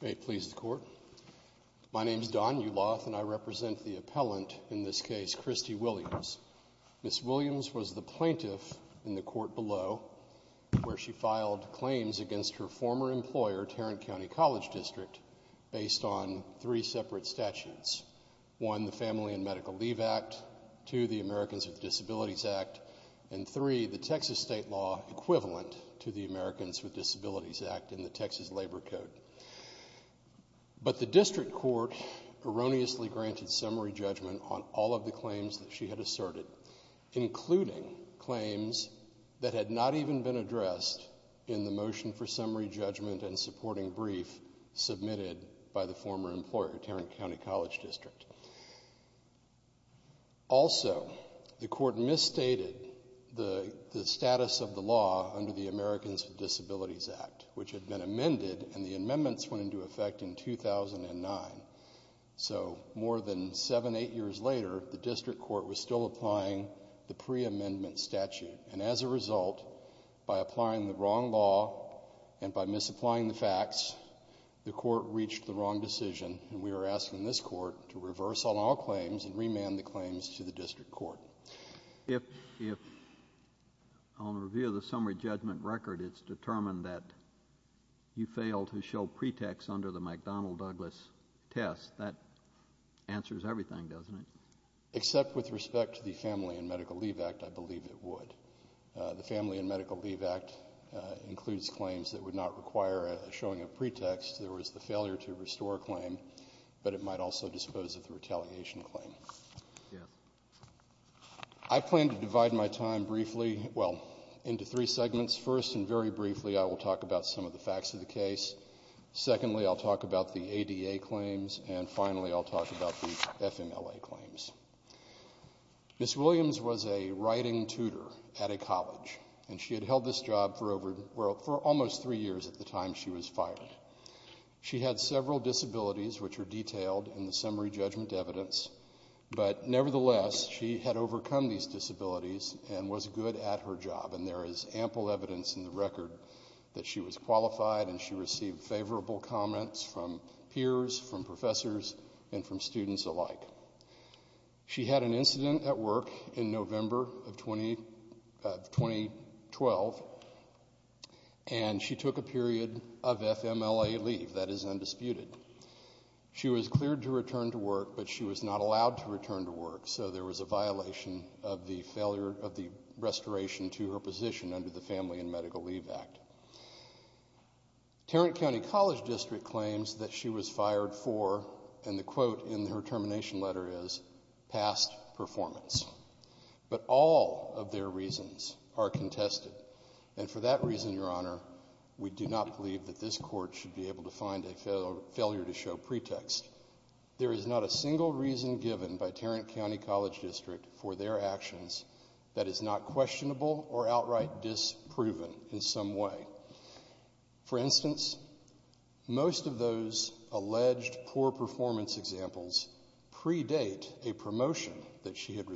Ms. Williams was the plaintiff in the court below, where she filed claims against her former employer, Tarrant County College District, based on three separate statutes, 1, the Family and Medical Leave Act, 2, the Americans with Disabilities Act, and 3, the Texas state law equivalent to the Americans with Disabilities Act and the Texas Labor Code. But the district court erroneously granted summary judgment on all of the claims that she had asserted, including claims that had not even been addressed in the motion for summary judgment and supporting brief submitted by the former employer, Tarrant County College District. Also, the court misstated the status of the law under the Americans with Disabilities Act, which had been amended and the amendments went into effect in 2009. So more than seven, eight years later, the district court was still applying the preamendment statute. And as a result, by applying the wrong law and by misapplying the facts, the court reached the wrong decision, and we are asking this court to reverse all our claims and remand the claims to the district court. If, on review of the summary judgment record, it's determined that you failed to show pretext under the McDonnell Douglas test, that answers everything, doesn't it? Except with respect to the Family and Medical Leave Act, I believe it would. The Family and Medical Leave Act includes claims that would not require a showing of pretext. There was the failure to restore a claim, but it might also dispose of the retaliation claim. I plan to divide my time briefly, well, into three segments. First, and very briefly, I will talk about some of the facts of the case. Secondly, I'll talk about the ADA claims. And finally, I'll talk about the FMLA claims. Ms. Williams was a writing tutor at a college, and she had held this job for almost three years at the time she was fired. She had several disabilities, which are detailed in the summary judgment evidence, but nevertheless, she had overcome these disabilities and was good at her job. And there is ample evidence in the record that she was qualified and she received favorable comments from peers, from professors, and from students alike. She had an incident at work in November of 2012, and she took a period of FMLA leave. That is undisputed. She was cleared to return to work, but she was not allowed to return to work, so there was a violation of the restoration to her position under the Family and Medical Leave Act. Tarrant County College District claims that she was fired for, and the quote in her termination letter is, past performance. But all of their reasons are contested. And for that reason, Your Honor, we do not believe that this Court should be able to find a failure to show pretext. There is not a single reason given by Tarrant County College District for their actions that is not questionable or outright disproven in some way. For instance, most of those alleged poor performance examples predate a promotion that she had So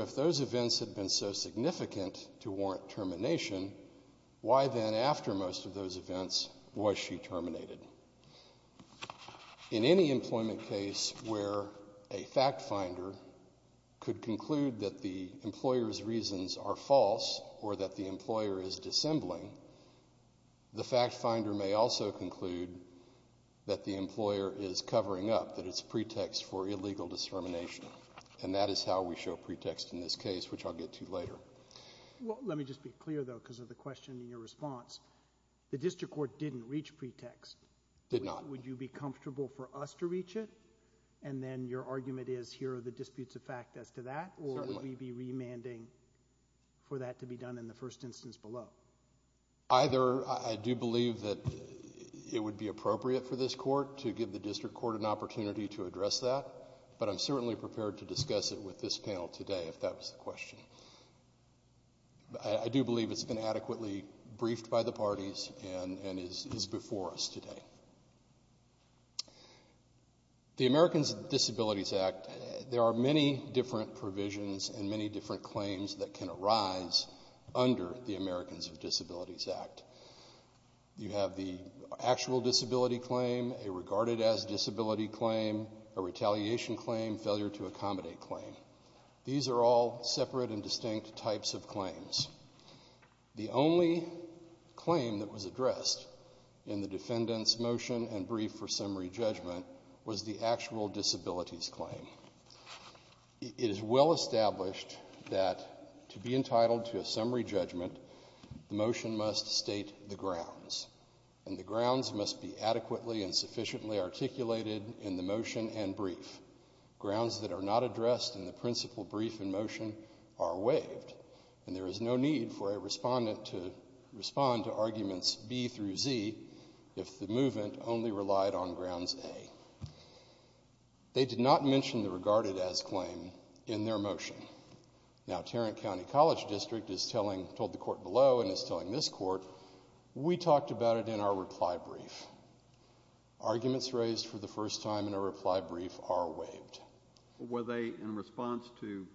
if those events had been so significant to warrant termination, why then, after most of those events, was she terminated? In any employment case where a fact finder could conclude that the employer's reasons are false or that the employer is dissembling, the fact finder may also conclude that the employer is covering up, that it's pretext for illegal discrimination. And that is how we show pretext in this case, which I'll get to later. Let me just be clear, though, because of the question in your response. The District Court didn't reach pretext. Did not. Would you be comfortable for us to reach it? And then your argument is, here are the disputes of fact as to that? Or would we be remanding for that to be done in the first instance below? Either. I do believe that it would be appropriate for this Court to give the District Court an opportunity to address that, but I'm certainly prepared to discuss it with this panel today if that was the question. I do believe it's been adequately briefed by the parties and is before us today. The Americans with Disabilities Act, there are many different provisions and many different claims that can arise under the Americans with Disabilities Act. You have the actual disability claim, a regarded as disability claim, a retaliation claim, failure to accommodate claim. These are all separate and distinct types of claims. The only claim that was addressed in the defendant's motion and brief for summary judgment was the actual disabilities claim. It is well established that to be entitled to a summary judgment, the motion must state the grounds, and the grounds must be adequately and sufficiently articulated in the motion and brief. Grounds that are not addressed in the principal brief and motion are waived, and there is no need for a respondent to respond to arguments B through Z if the movement only relied on grounds A. They did not mention the regarded as claim in their motion. Now, Tarrant County College District is telling, told the court below and is telling this court, we talked about it in our reply brief. Arguments raised for the first time in a reply brief are waived. Were they in response to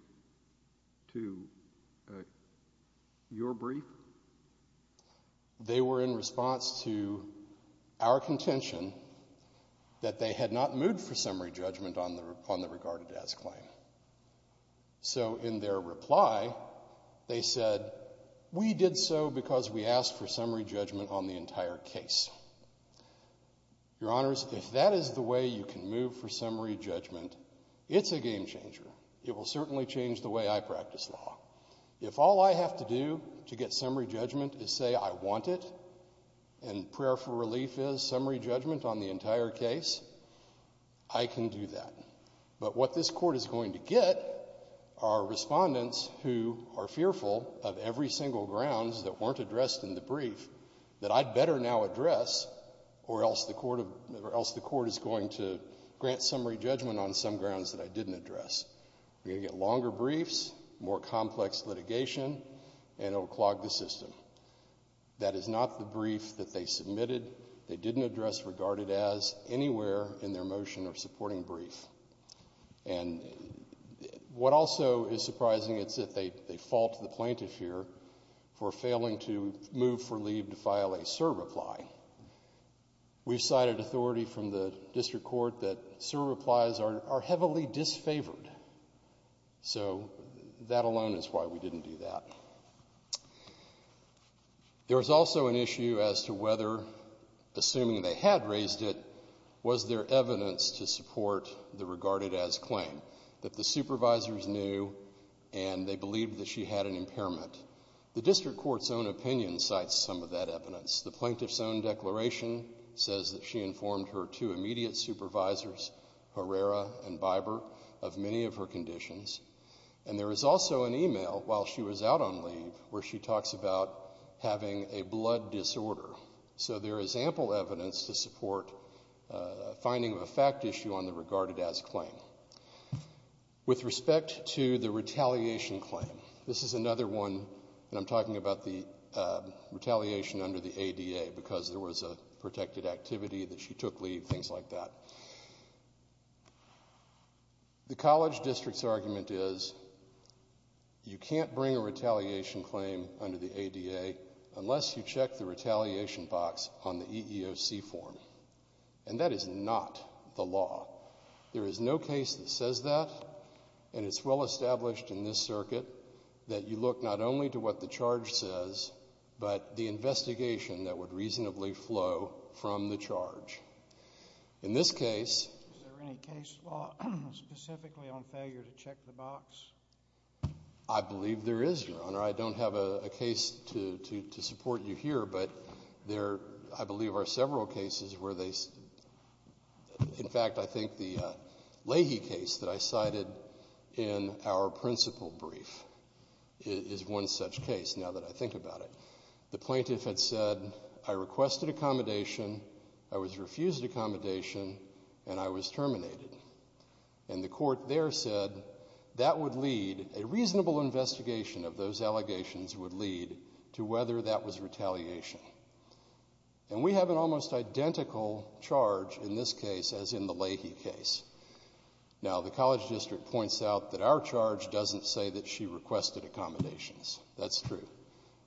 your brief? They were in response to our contention that they had not moved for summary judgment on the regarded as claim. So in their reply, they said, we did so because we asked for summary judgment on the entire case. Your Honors, if that is the way you can move for summary judgment, it's a game changer. It will certainly change the way I practice law. If all I have to do to get summary judgment is say I want it, and prayer for relief is in the entire case, I can do that. But what this court is going to get are respondents who are fearful of every single grounds that weren't addressed in the brief that I'd better now address or else the court is going to grant summary judgment on some grounds that I didn't address. We're going to get longer briefs, more complex litigation, and it will clog the system. That is not the brief that they submitted. They didn't address regarded as anywhere in their motion or supporting brief. And what also is surprising is that they fault the plaintiff here for failing to move for leave to file a surreply. We've cited authority from the district court that surreplies are heavily disfavored. So that alone is why we didn't. There was also an issue as to whether, assuming they had raised it, was there evidence to support the regarded as claim, that the supervisors knew and they believed that she had an impairment. The district court's own opinion cites some of that evidence. The plaintiff's own declaration says that she informed her two immediate supervisors, Herrera and Biber, of many of her conditions. And there was also an email while she was out on leave where she talks about having a blood disorder. So there is ample evidence to support finding of a fact issue on the regarded as claim. With respect to the retaliation claim, this is another one, and I'm talking about the retaliation under the ADA because there was a protected activity that she took leave, things like that. The college district's argument is you can't bring a retaliation claim under the ADA unless you check the retaliation box on the EEOC form. And that is not the law. There is no case that says that, and it's well established in this circuit that you look not only to what the charge says, but the investigation that would reasonably flow from the charge. In this case... Is there any case law specifically on failure to check the box? I believe there is, Your Honor. I don't have a case to support you here, but there I believe are several cases where they... In fact, I think the Leahy case that I cited in our principal brief is one such case, now that I think about it. The plaintiff had said, I requested accommodation, I was refused accommodation, and I was terminated. And the court there said that would lead... A reasonable investigation of those allegations would lead to whether that was retaliation. And we have an almost identical charge in this case as in the Leahy case. Now, the college district points out that our charge doesn't say that she requested accommodations. That's true.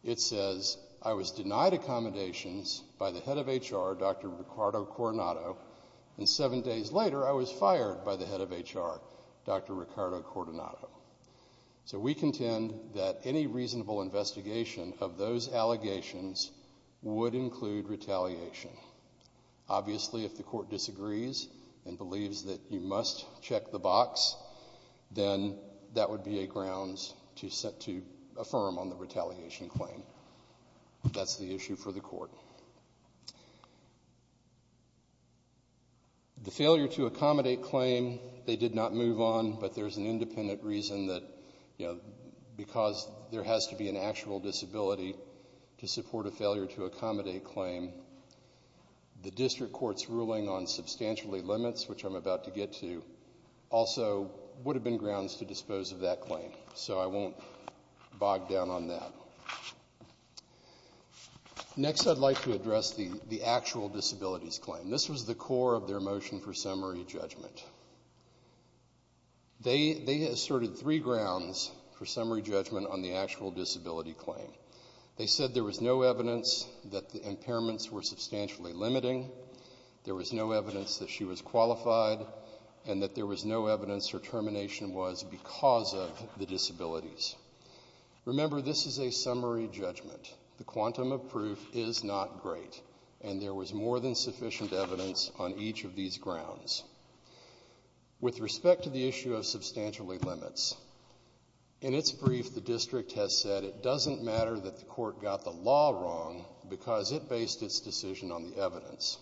It says, I was denied accommodations by the head of HR, Dr. Ricardo Coronado, and seven days later I was fired by the head of HR, Dr. Ricardo Coronado. So we contend that any reasonable investigation of those allegations would include retaliation. Obviously, if the court disagrees and believes that you must check the box, then that would be a grounds to affirm on the retaliation claim. That's the issue for the court. The failure to accommodate claim, they did not move on, but there's an independent reason that because there has to be an actual disability to support a failure to accommodate claim, the district court's ruling on substantially limits, which I'm about to get to, also would have been grounds to dispose of that claim. So I won't bog down on that. Next I'd like to address the actual disabilities claim. This was the core of their motion for summary judgment. They asserted three grounds for summary judgment on the actual disability claim. They said there was no evidence that the impairments were substantially limiting, there was no evidence that she was qualified, and that there was no evidence her termination was because of the disabilities. Remember, this is a summary judgment. The quantum of proof is not great, and there was more than sufficient evidence on each of these grounds. With respect to the issue of substantially limits, in its brief the district has said it doesn't matter that the court got the law wrong because it based its decision on the evidence.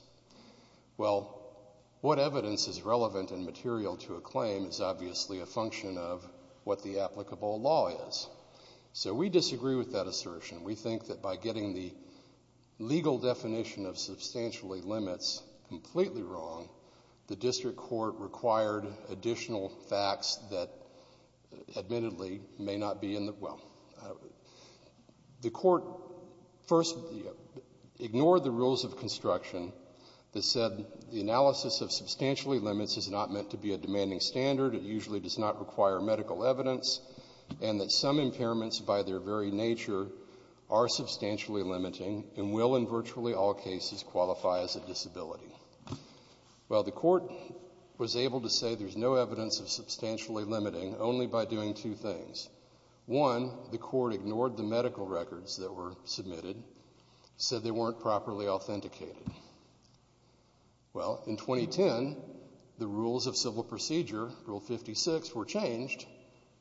Well, what evidence is relevant and material to a claim is obviously a function of what the applicable law is. So we disagree with that assertion. We think that by getting the legal definition of substantially limits completely wrong, the district court required additional facts that admittedly may not be in the — well, the court first ignored the rules of construction that said the analysis of substantially limits is not meant to be a demanding standard, it usually does not require medical evidence, and that some impairments by their very nature are substantially limiting and will in virtually all cases qualify as a disability. Well, the court was able to say there's no evidence of substantially limiting only by doing two things. One, the court ignored the medical records that were submitted, said they weren't properly authenticated. Well, in 2010, the rules of civil procedure, Rule 56, were changed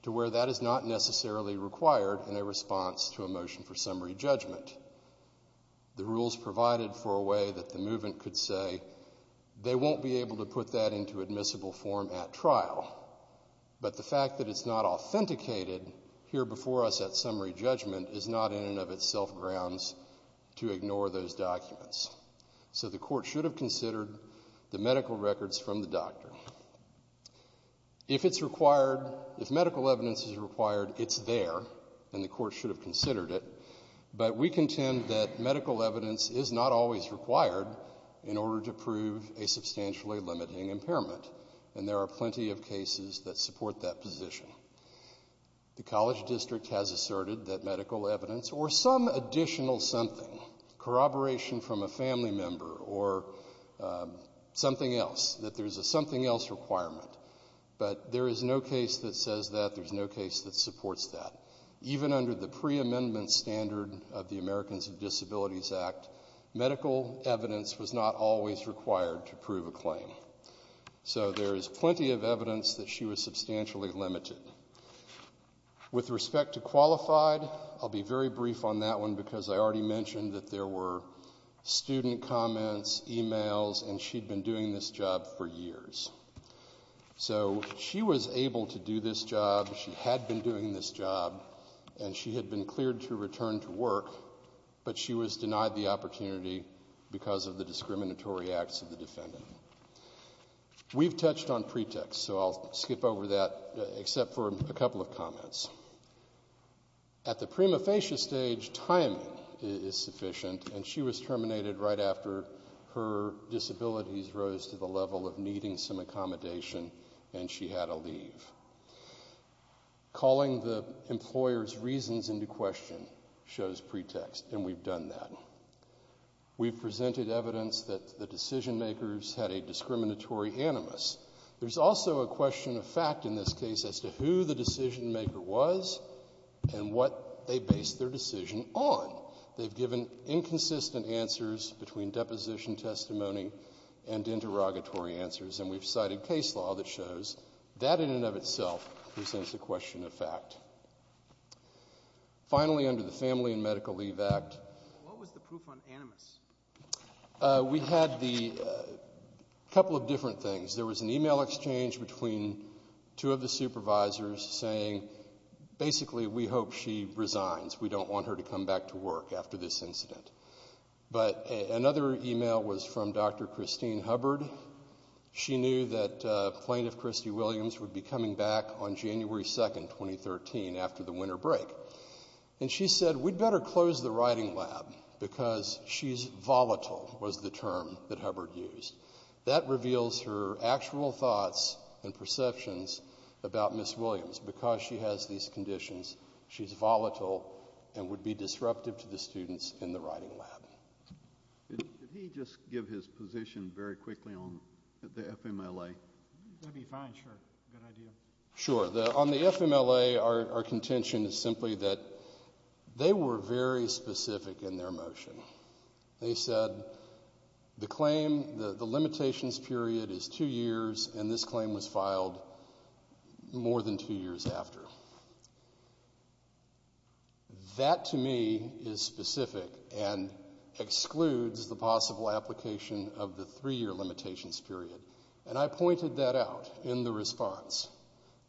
to where that is not necessarily required in a response to a motion for summary judgment. The rules provided for a way that the movement could say they won't be able to put that into admissible form at trial, but the fact that it's not authenticated here before us at summary judgment is not in and of itself grounds to ignore those documents. So the court should have considered the medical records from the past, and the court should have considered it, but we contend that medical evidence is not always required in order to prove a substantially limiting impairment, and there are plenty of cases that support that position. The college district has asserted that medical evidence or some additional something, corroboration from a family member or something else, that there's a something else requirement, but there is no case that says that, there's no case that supports that. Even under the pre-amendment standard of the Americans with Disabilities Act, medical evidence was not always required to prove a claim. So there is plenty of evidence that she was substantially limited. With respect to qualified, I'll be very brief on that one because I already mentioned that there were student comments, emails, and she'd been doing this job for years. So she was able to do this job, she had been doing this job, and she had been cleared to return to work, but she was denied the opportunity because of the discriminatory acts of the defendant. We've touched on pretext, so I'll skip over that except for a couple of comments. At the prima facie stage, timing is sufficient, and her disabilities rose to the level of needing some accommodation, and she had to leave. Calling the employer's reasons into question shows pretext, and we've done that. We've presented evidence that the decision makers had a discriminatory animus. There's also a question of fact in this case as to who the decision maker was and what they based their decision on. They've given inconsistent answers between deposition testimony and interrogatory answers, and we've cited case law that shows that in and of itself presents a question of fact. Finally, under the Family and Medical Leave Act, we had a couple of different things. There was an email exchange between two of the supervisors saying, basically, we hope she resigns. We don't want her to come back to work after this incident. Another email was from Dr. Christine Hubbard. She knew that Plaintiff Christy Williams would be coming back on January 2, 2013, after the winter break, and she said, we'd better close the writing lab because she's volatile, was the term that Hubbard used. That reveals her actual thoughts and perceptions about Ms. Williams. Because she has these conditions, she's volatile and would be disruptive to the students in the writing lab. Did he just give his position very quickly on the FMLA? That'd be fine, sure. Good idea. Sure. On the FMLA, our contention is simply that they were very specific in their motion. They said, the claim, the limitations period is two years, and this claim was filed more than two years after. That, to me, is specific and excludes the possible application of the three-year limitations period. And I pointed that out in the response.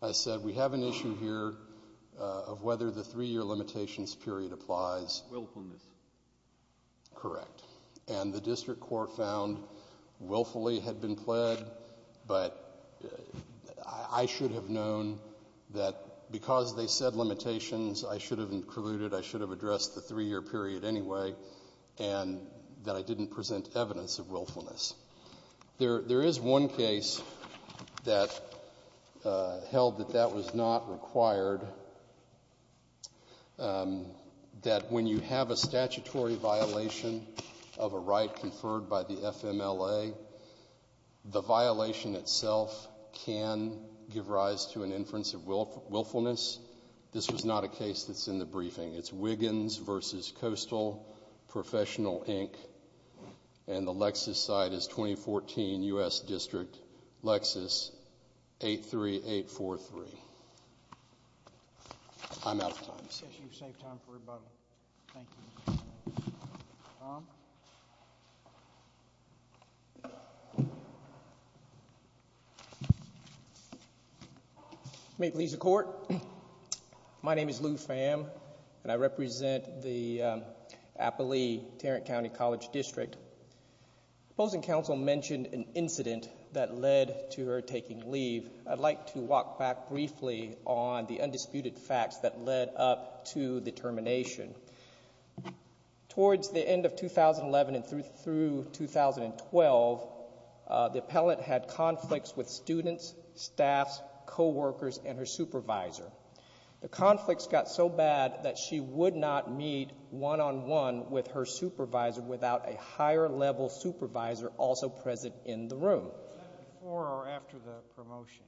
I said, we have an issue here of whether the three-year limitations period applies. Willfulness. Correct. And the district court found willfully had been pled, but I should have known that because they said limitations, I should have included, I should have addressed the three-year period anyway, and that I didn't present evidence of willfulness. There is one case that held that that was not required, that when you present evidence you have a statutory violation of a right conferred by the FMLA, the violation itself can give rise to an inference of willfulness. This was not a case that's in the briefing. It's Wiggins v. Coastal Professional, Inc., and the Lexus site is 2014 U.S. District, Lexus 83843. I'm out of time. Yes, you've saved time for rebuttal. Thank you. May it please the Court, my name is Lou Pham, and I represent the Applee-Tarrant County College District. Supposing counsel mentioned an incident that led to her taking leave, I'd like to walk back briefly on the undisputed facts that led up to the termination. Towards the end of 2011 and through 2012, the appellant had conflicts with students, staff, co-workers, and her supervisor. The conflicts got so bad that she would not meet one-on-one with her supervisor without a higher-level supervisor also present in the room. Was that before or after the promotion?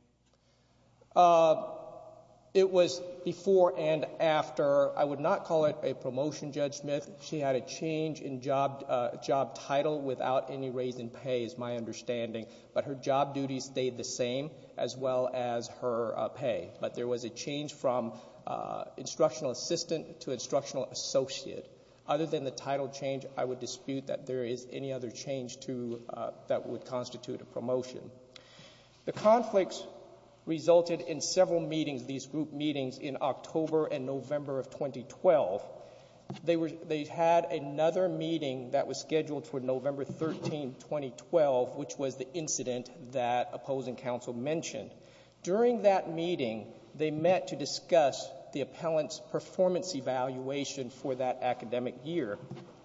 It was before and after. I would not call it a promotion, Judge Smith. She had a change in job title without any raise in pay, is my understanding, but her job duties stayed the same as well as her pay. But there was a change from instructional assistant to instructional associate. Other than the title change, I would dispute that there is any other change that would constitute a promotion. The conflicts resulted in several meetings, these group meetings, in October and November of 2012. They had another meeting that was scheduled for November 13, 2012, which was the incident that opposing counsel mentioned. During that meeting, they met to discuss the appellant's performance evaluation for that academic year.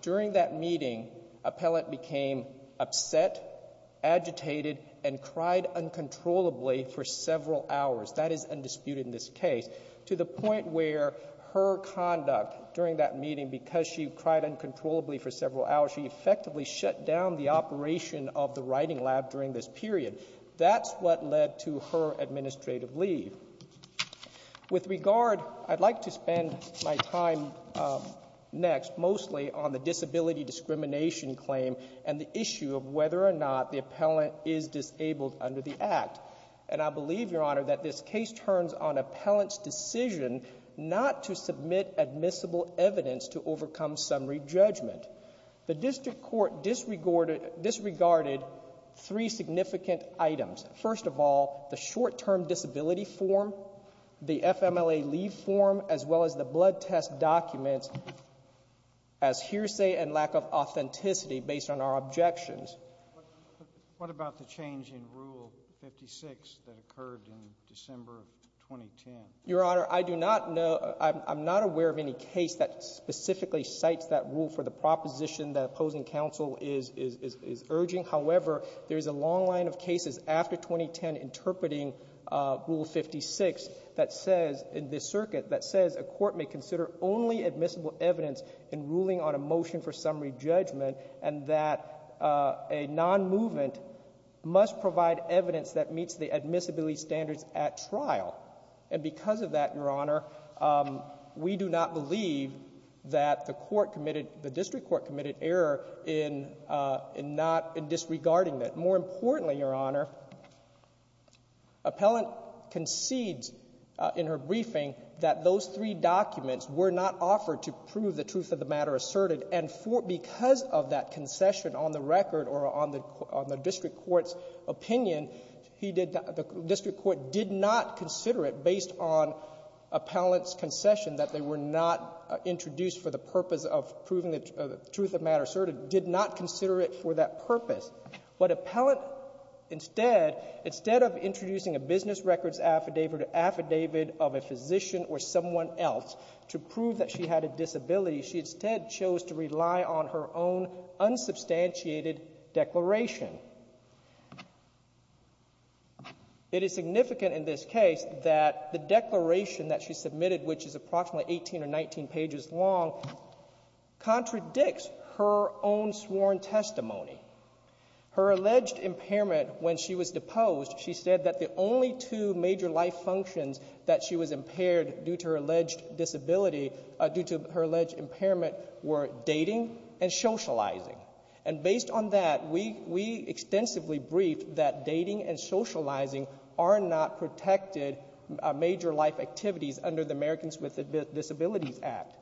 During that meeting, appellant became upset, agitated, and cried uncontrollably for several hours. That is undisputed in this case, to the point where her conduct during that meeting, because she cried uncontrollably for several hours, she effectively shut down the operation of the writing lab during this period. That's what led to her administrative leave. With regard, I'd like to spend my time next mostly on the disability discrimination claim and the issue of whether or not the appellant is disabled under the Act. And I believe, Your Honor, that this case turns on appellant's decision not to submit admissible evidence to overcome summary judgment. The district court disregarded three significant items. First of all, the short-term disability form, the FMLA leave form, as well as the blood test documents as hearsay and lack of authenticity based on our objections. What about the change in Rule 56 that occurred in December of 2010? Your Honor, I do not know — I'm not aware of any case that specifically cites that rule for the proposition that opposing counsel is urging. However, there is a long line of cases after 2010 interpreting Rule 56 that says, in this circuit, that says a court may consider only admissible evidence in ruling on a motion for summary judgment and that a nonmovement must provide evidence that meets the admissibility standards at trial. And because of that, Your Honor, we do not believe that the court committed — the district court committed error in not — in disregarding that. More importantly, Your Honor, appellant concedes in her briefing that those three documents were not offered to prove the truth of the matter asserted. And for — because of that concession on the record or on the district court's opinion, he did — the district court did not consider it based on appellant's concession that they were not introduced for the purpose of proving the truth of the matter asserted, did not consider it for that purpose. But appellant, instead, instead of introducing a business records affidavit or affidavit of a physician or someone else to prove that she had a disability, she instead chose to rely on her own unsubstantiated declaration. It is significant in this case that the declaration that she submitted, which is approximately 18 or 19 pages long, contradicts her own sworn testimony. Her alleged impairment when she was deposed, she said that the only two major life functions that she was impaired due to her alleged disability — due to her alleged impairment were dating and socializing. And based on that, we — we extensively briefed that dating and socializing are not protected major life activities under the Americans with Disabilities Act.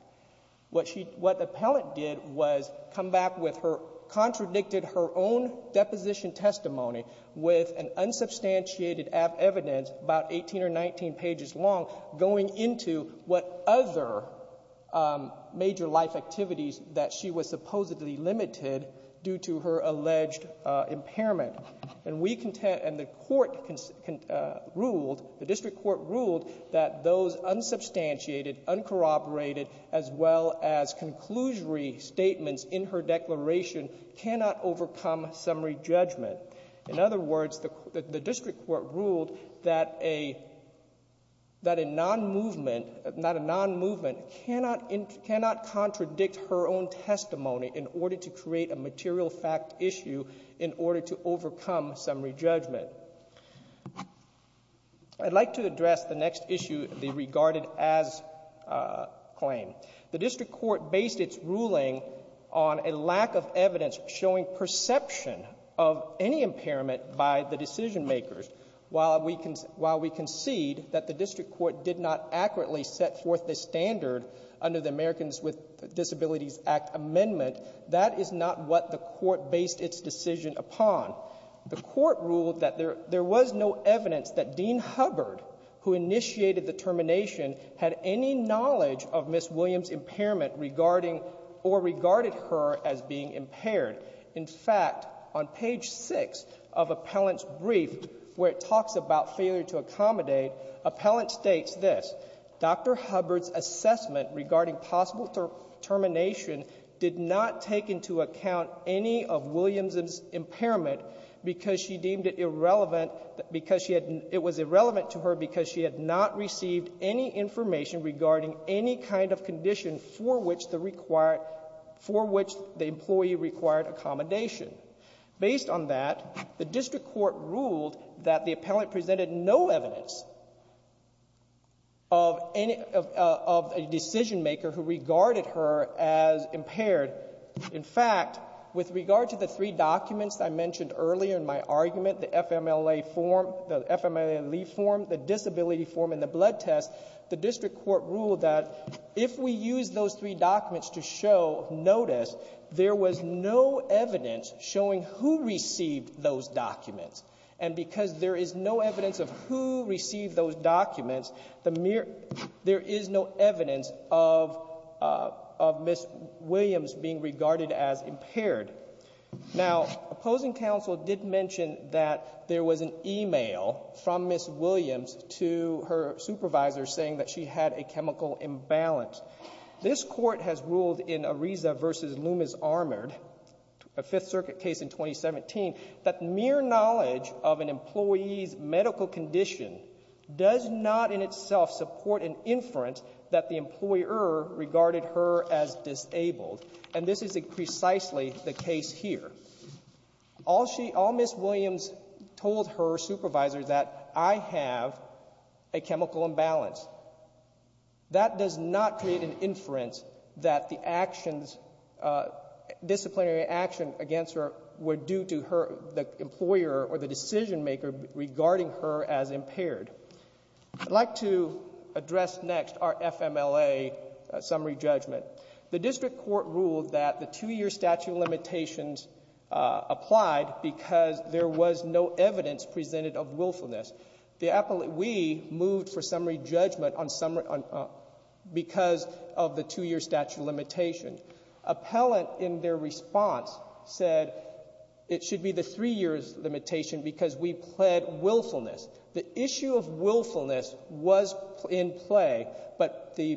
What she — what appellant did was come back with her — contradicted her own deposition testimony with an unsubstantiated evidence about 18 or 19 pages long going into what other major life activities that she was supposedly limited due to her alleged impairment. And we — and the court ruled, the district court ruled that those unsubstantiated, uncorroborated as well as conclusory statements in her declaration cannot overcome summary judgment. In other words, the — the district court ruled that a — that a non-movement — not a non-movement cannot — cannot contradict her own testimony in order to create a material fact issue in order to overcome summary judgment. I'd like to address the next issue, the regarded as claim. The district court based its ruling on a lack of evidence showing perception of any impairment by the decision makers. While we — while we concede that the district court did not accurately set forth the standard under the Americans with Disabilities Act amendment, that is not what the court based its decision upon. The court ruled that there — there was no evidence that Dean Hubbard, who initiated the termination, had any knowledge of Ms. Williams' impairment regarding or regarded her as being impaired. In fact, on page 6 of Appellant's brief, where it talks about failure to accommodate, Appellant states this, Dr. Hubbard's assessment regarding possible termination did not take into account any of Williams' impairment because she deemed it irrelevant because she had — it was irrelevant to her because she had not received any information regarding any kind of condition for which the required — for which the employee required accommodation. Based on that, the district court ruled that the appellant presented no evidence of any — of a decision-maker who regarded her as impaired. In fact, with regard to the three documents I mentioned earlier in my argument, the FMLA form — the FMLA-LEA form, the disability form, and the blood test, the district court ruled that if we use those three documents to show notice, there was no evidence showing who received those documents. And because there is no evidence of who received regarded as impaired. Now, opposing counsel did mention that there was an email from Ms. Williams to her supervisor saying that she had a chemical imbalance. This court has ruled in Ariza v. Loomis-Armored, a Fifth Circuit case in 2017, that mere knowledge of an employee's medical condition does not in itself support an inference that the is precisely the case here. All she — all Ms. Williams told her supervisor that I have a chemical imbalance. That does not create an inference that the actions — disciplinary action against her were due to her — the employer or the decision-maker regarding her as impaired. I'd like to address next our FMLA summary judgment. The district court ruled that the two-year statute of limitations applied because there was no evidence presented of willfulness. The — we moved for summary judgment on summary — because of the two-year statute of limitation. Appellant, in their response, said it should be the three-year limitation because we pled willfulness. The issue of willfulness was in play, but the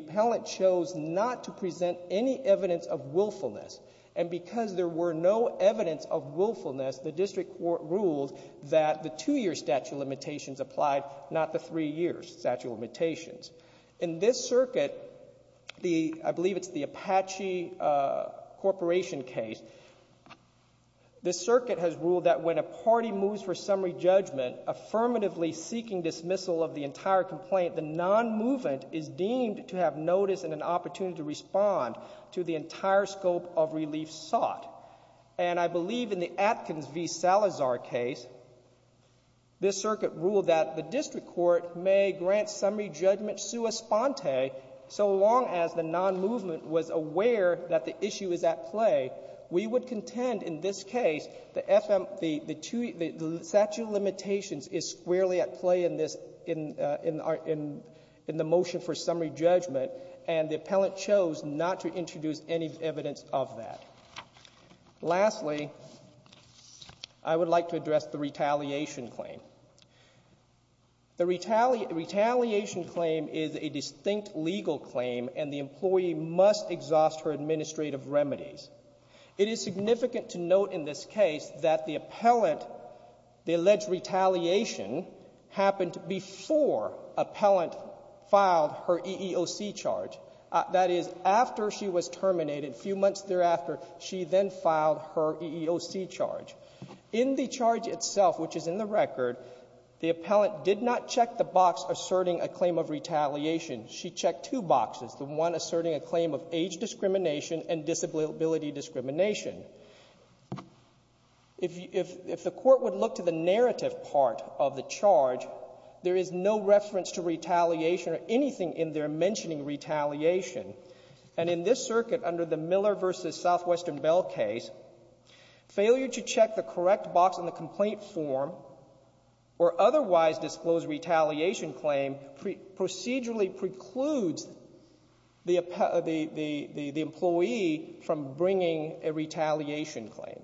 willfulness. And because there were no evidence of willfulness, the district court ruled that the two-year statute of limitations applied, not the three-year statute of limitations. In this circuit, the — I believe it's the Apache Corporation case — this circuit has ruled that when a party moves for summary judgment, affirmatively seeking dismissal of the entire complaint, the nonmovement is deemed to have notice and an opportunity to do whatever scope of relief sought. And I believe in the Atkins v. Salazar case, this circuit ruled that the district court may grant summary judgment sua sponte so long as the nonmovement was aware that the issue is at play. We would contend in this case the FM — the two — the statute of limitations is squarely at play in this — in our — in our defense of that. Lastly, I would like to address the retaliation claim. The retaliation claim is a distinct legal claim, and the employee must exhaust her administrative remedies. It is significant to note in this case that the appellant — the alleged retaliation happened before Appellant filed her EEOC charge. That is, after she was terminated, a few months thereafter, she then filed her EEOC charge. In the charge itself, which is in the record, the appellant did not check the box asserting a claim of retaliation. She checked two boxes, the one asserting a claim of age discrimination and disability discrimination. If — if the court would look to the narrative part of the charge, there is no reference to retaliation or anything in there mentioning retaliation. And in this circuit, under the Miller v. Southwestern Bell case, failure to check the correct box in the complaint form or otherwise disclose retaliation claim procedurally precludes the — the — the employee from bringing a retaliation charge. The employee from bringing a retaliation claim.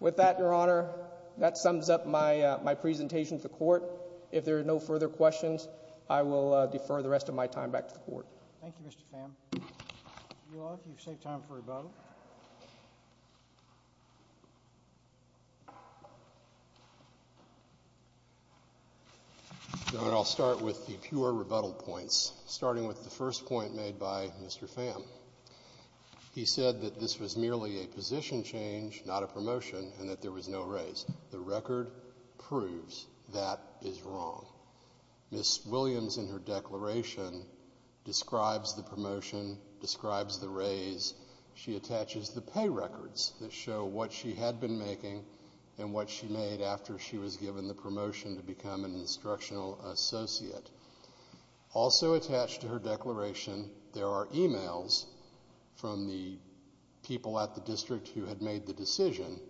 With that, Your Honor, that sums up my — my presentation to the court. If there are no further questions, I will defer the rest of my time back to the court. Thank you, Mr. Pham. You all can save time for rebuttal. Your Honor, I'll start with the pure rebuttal points, starting with the first point made by Mr. Pham. He said that this was merely a position change, not a promotion, and that there was no raise. The record proves that is wrong. Ms. Williams, in her declaration, describes the promotion, describes the raise. She attaches the pay records that show what she had been making and what she made after she was given the promotion to become an instructional associate. Also attached to her declaration, there are emails from the people at the district who had made the decision,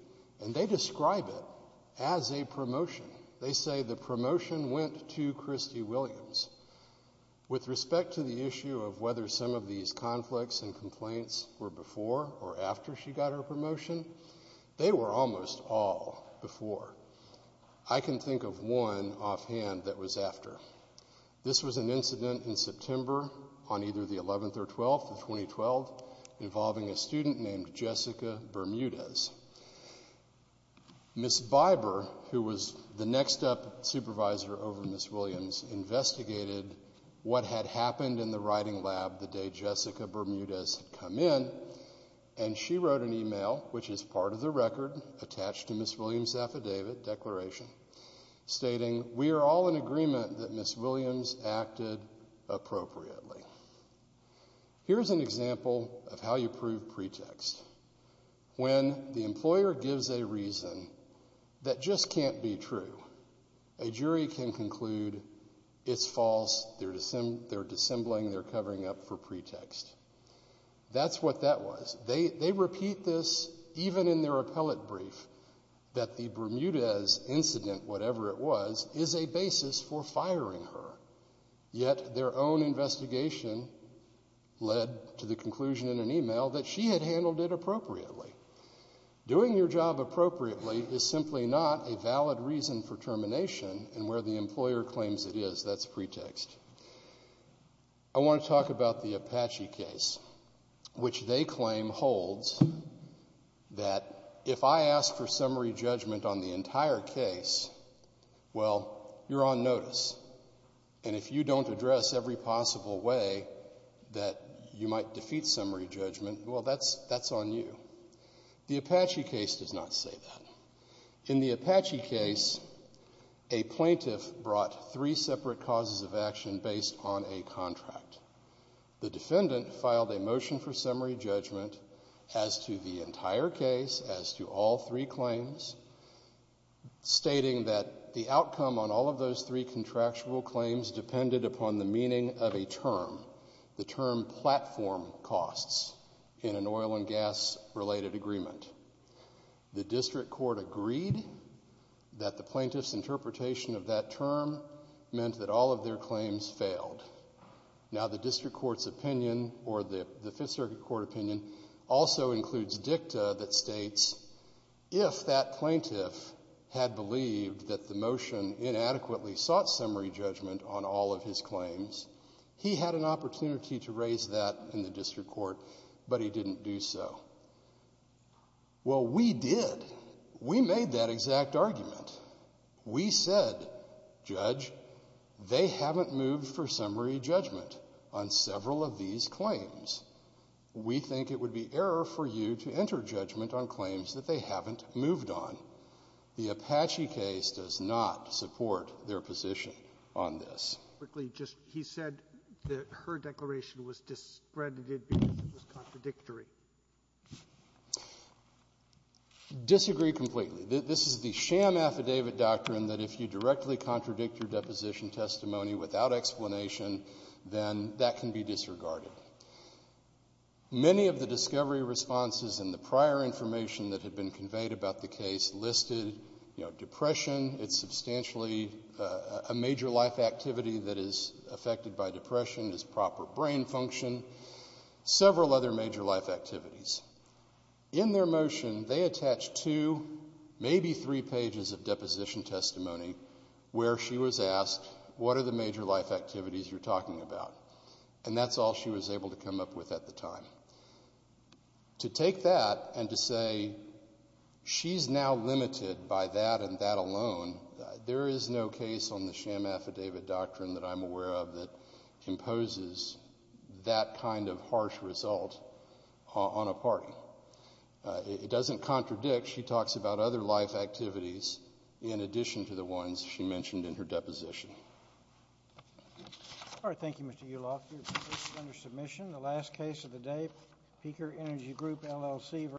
and they describe it as a promotion. They say the promotion went to Christy Williams. With respect to the issue of whether some of these conflicts and complaints were before or after she got her promotion, they were almost all before. I can think of one offhand that was after. This was an incident in September on either the 11th or 12th of 2012, involving a student named Jessica Bermudez. Ms. Biber, who was the next-up supervisor over Ms. Williams, investigated what had happened in the writing lab the day Jessica Bermudez had come in, and she wrote an email, which is part of the record attached to Ms. Williams' affidavit declaration, stating, ìWe are all in agreement that Ms. Williams acted appropriately.î Hereís an example of how you prove pretext. When the employer gives a reason that just canít be true, a jury can conclude itís false, theyíre dissembling, theyíre covering up for pretext. Thatís what that was. They repeat this even in their appellate brief, that the Bermudez incident, whatever it was, is a basis for firing her. Yet their own investigation led to the conclusion in an email that she had handled it appropriately. Doing your job appropriately is simply not a valid reason for termination, and where the employer claims it is, thatís pretext. I want to talk about the Apache case, which they claim holds that if I ask for summary judgment on the entire case, well, youíre on notice. And if you donít address every possible way that you might defeat summary judgment, well, thatís on you. The Apache case does not say that. In the Apache case, a plaintiff brought three separate causes of action based on a contract. The defendant filed a motion for summary judgment as to the entire case, as to all three claims, stating that the outcome on all of those three contractual claims depended upon the meaning of a term, the term ìplatform costsî in an oil and gas-related agreement. The district court agreed that the plaintiffís interpretation of that term meant that all of their claims failed. Now, the district courtís opinion, or the Fifth Circuit Court opinion, also includes dicta that states if that plaintiff had believed that the motion inadequately sought summary judgment on all of his claims, he had an opportunity to raise that in the district court, but he didnít do so. Well, we did. We made that exact argument. We said, ìJudge, they havenít moved for summary judgment on several of these claims. We think it would be error for you to enter judgment on claims that they havenít moved on.î The Apache case does not support their position on this. Quickly, just he said that her declaration was discredited because it was contradictory. Disagree completely. This is the sham affidavit doctrine that if you directly contradict your deposition testimony without explanation, then that can be disregarded. Many of the discovery responses and the prior information that had been conveyed about the case listed depression, itís substantially a major life activity that is affected by depression, is proper brain function, several other major life activities. In their motion, they attach two, maybe three pages of deposition testimony where she was asked, ìWhat are the major life activities youíre talking about?î And thatís all she was able to come up with at the time. To take that and to say sheís now limited by that and that alone, there is no case on the sham affidavit doctrine that Iím aware of that imposes that kind of harsh result on a party. It doesnít contradict. She talks about other life activities in addition to the ones she mentioned in her deposition.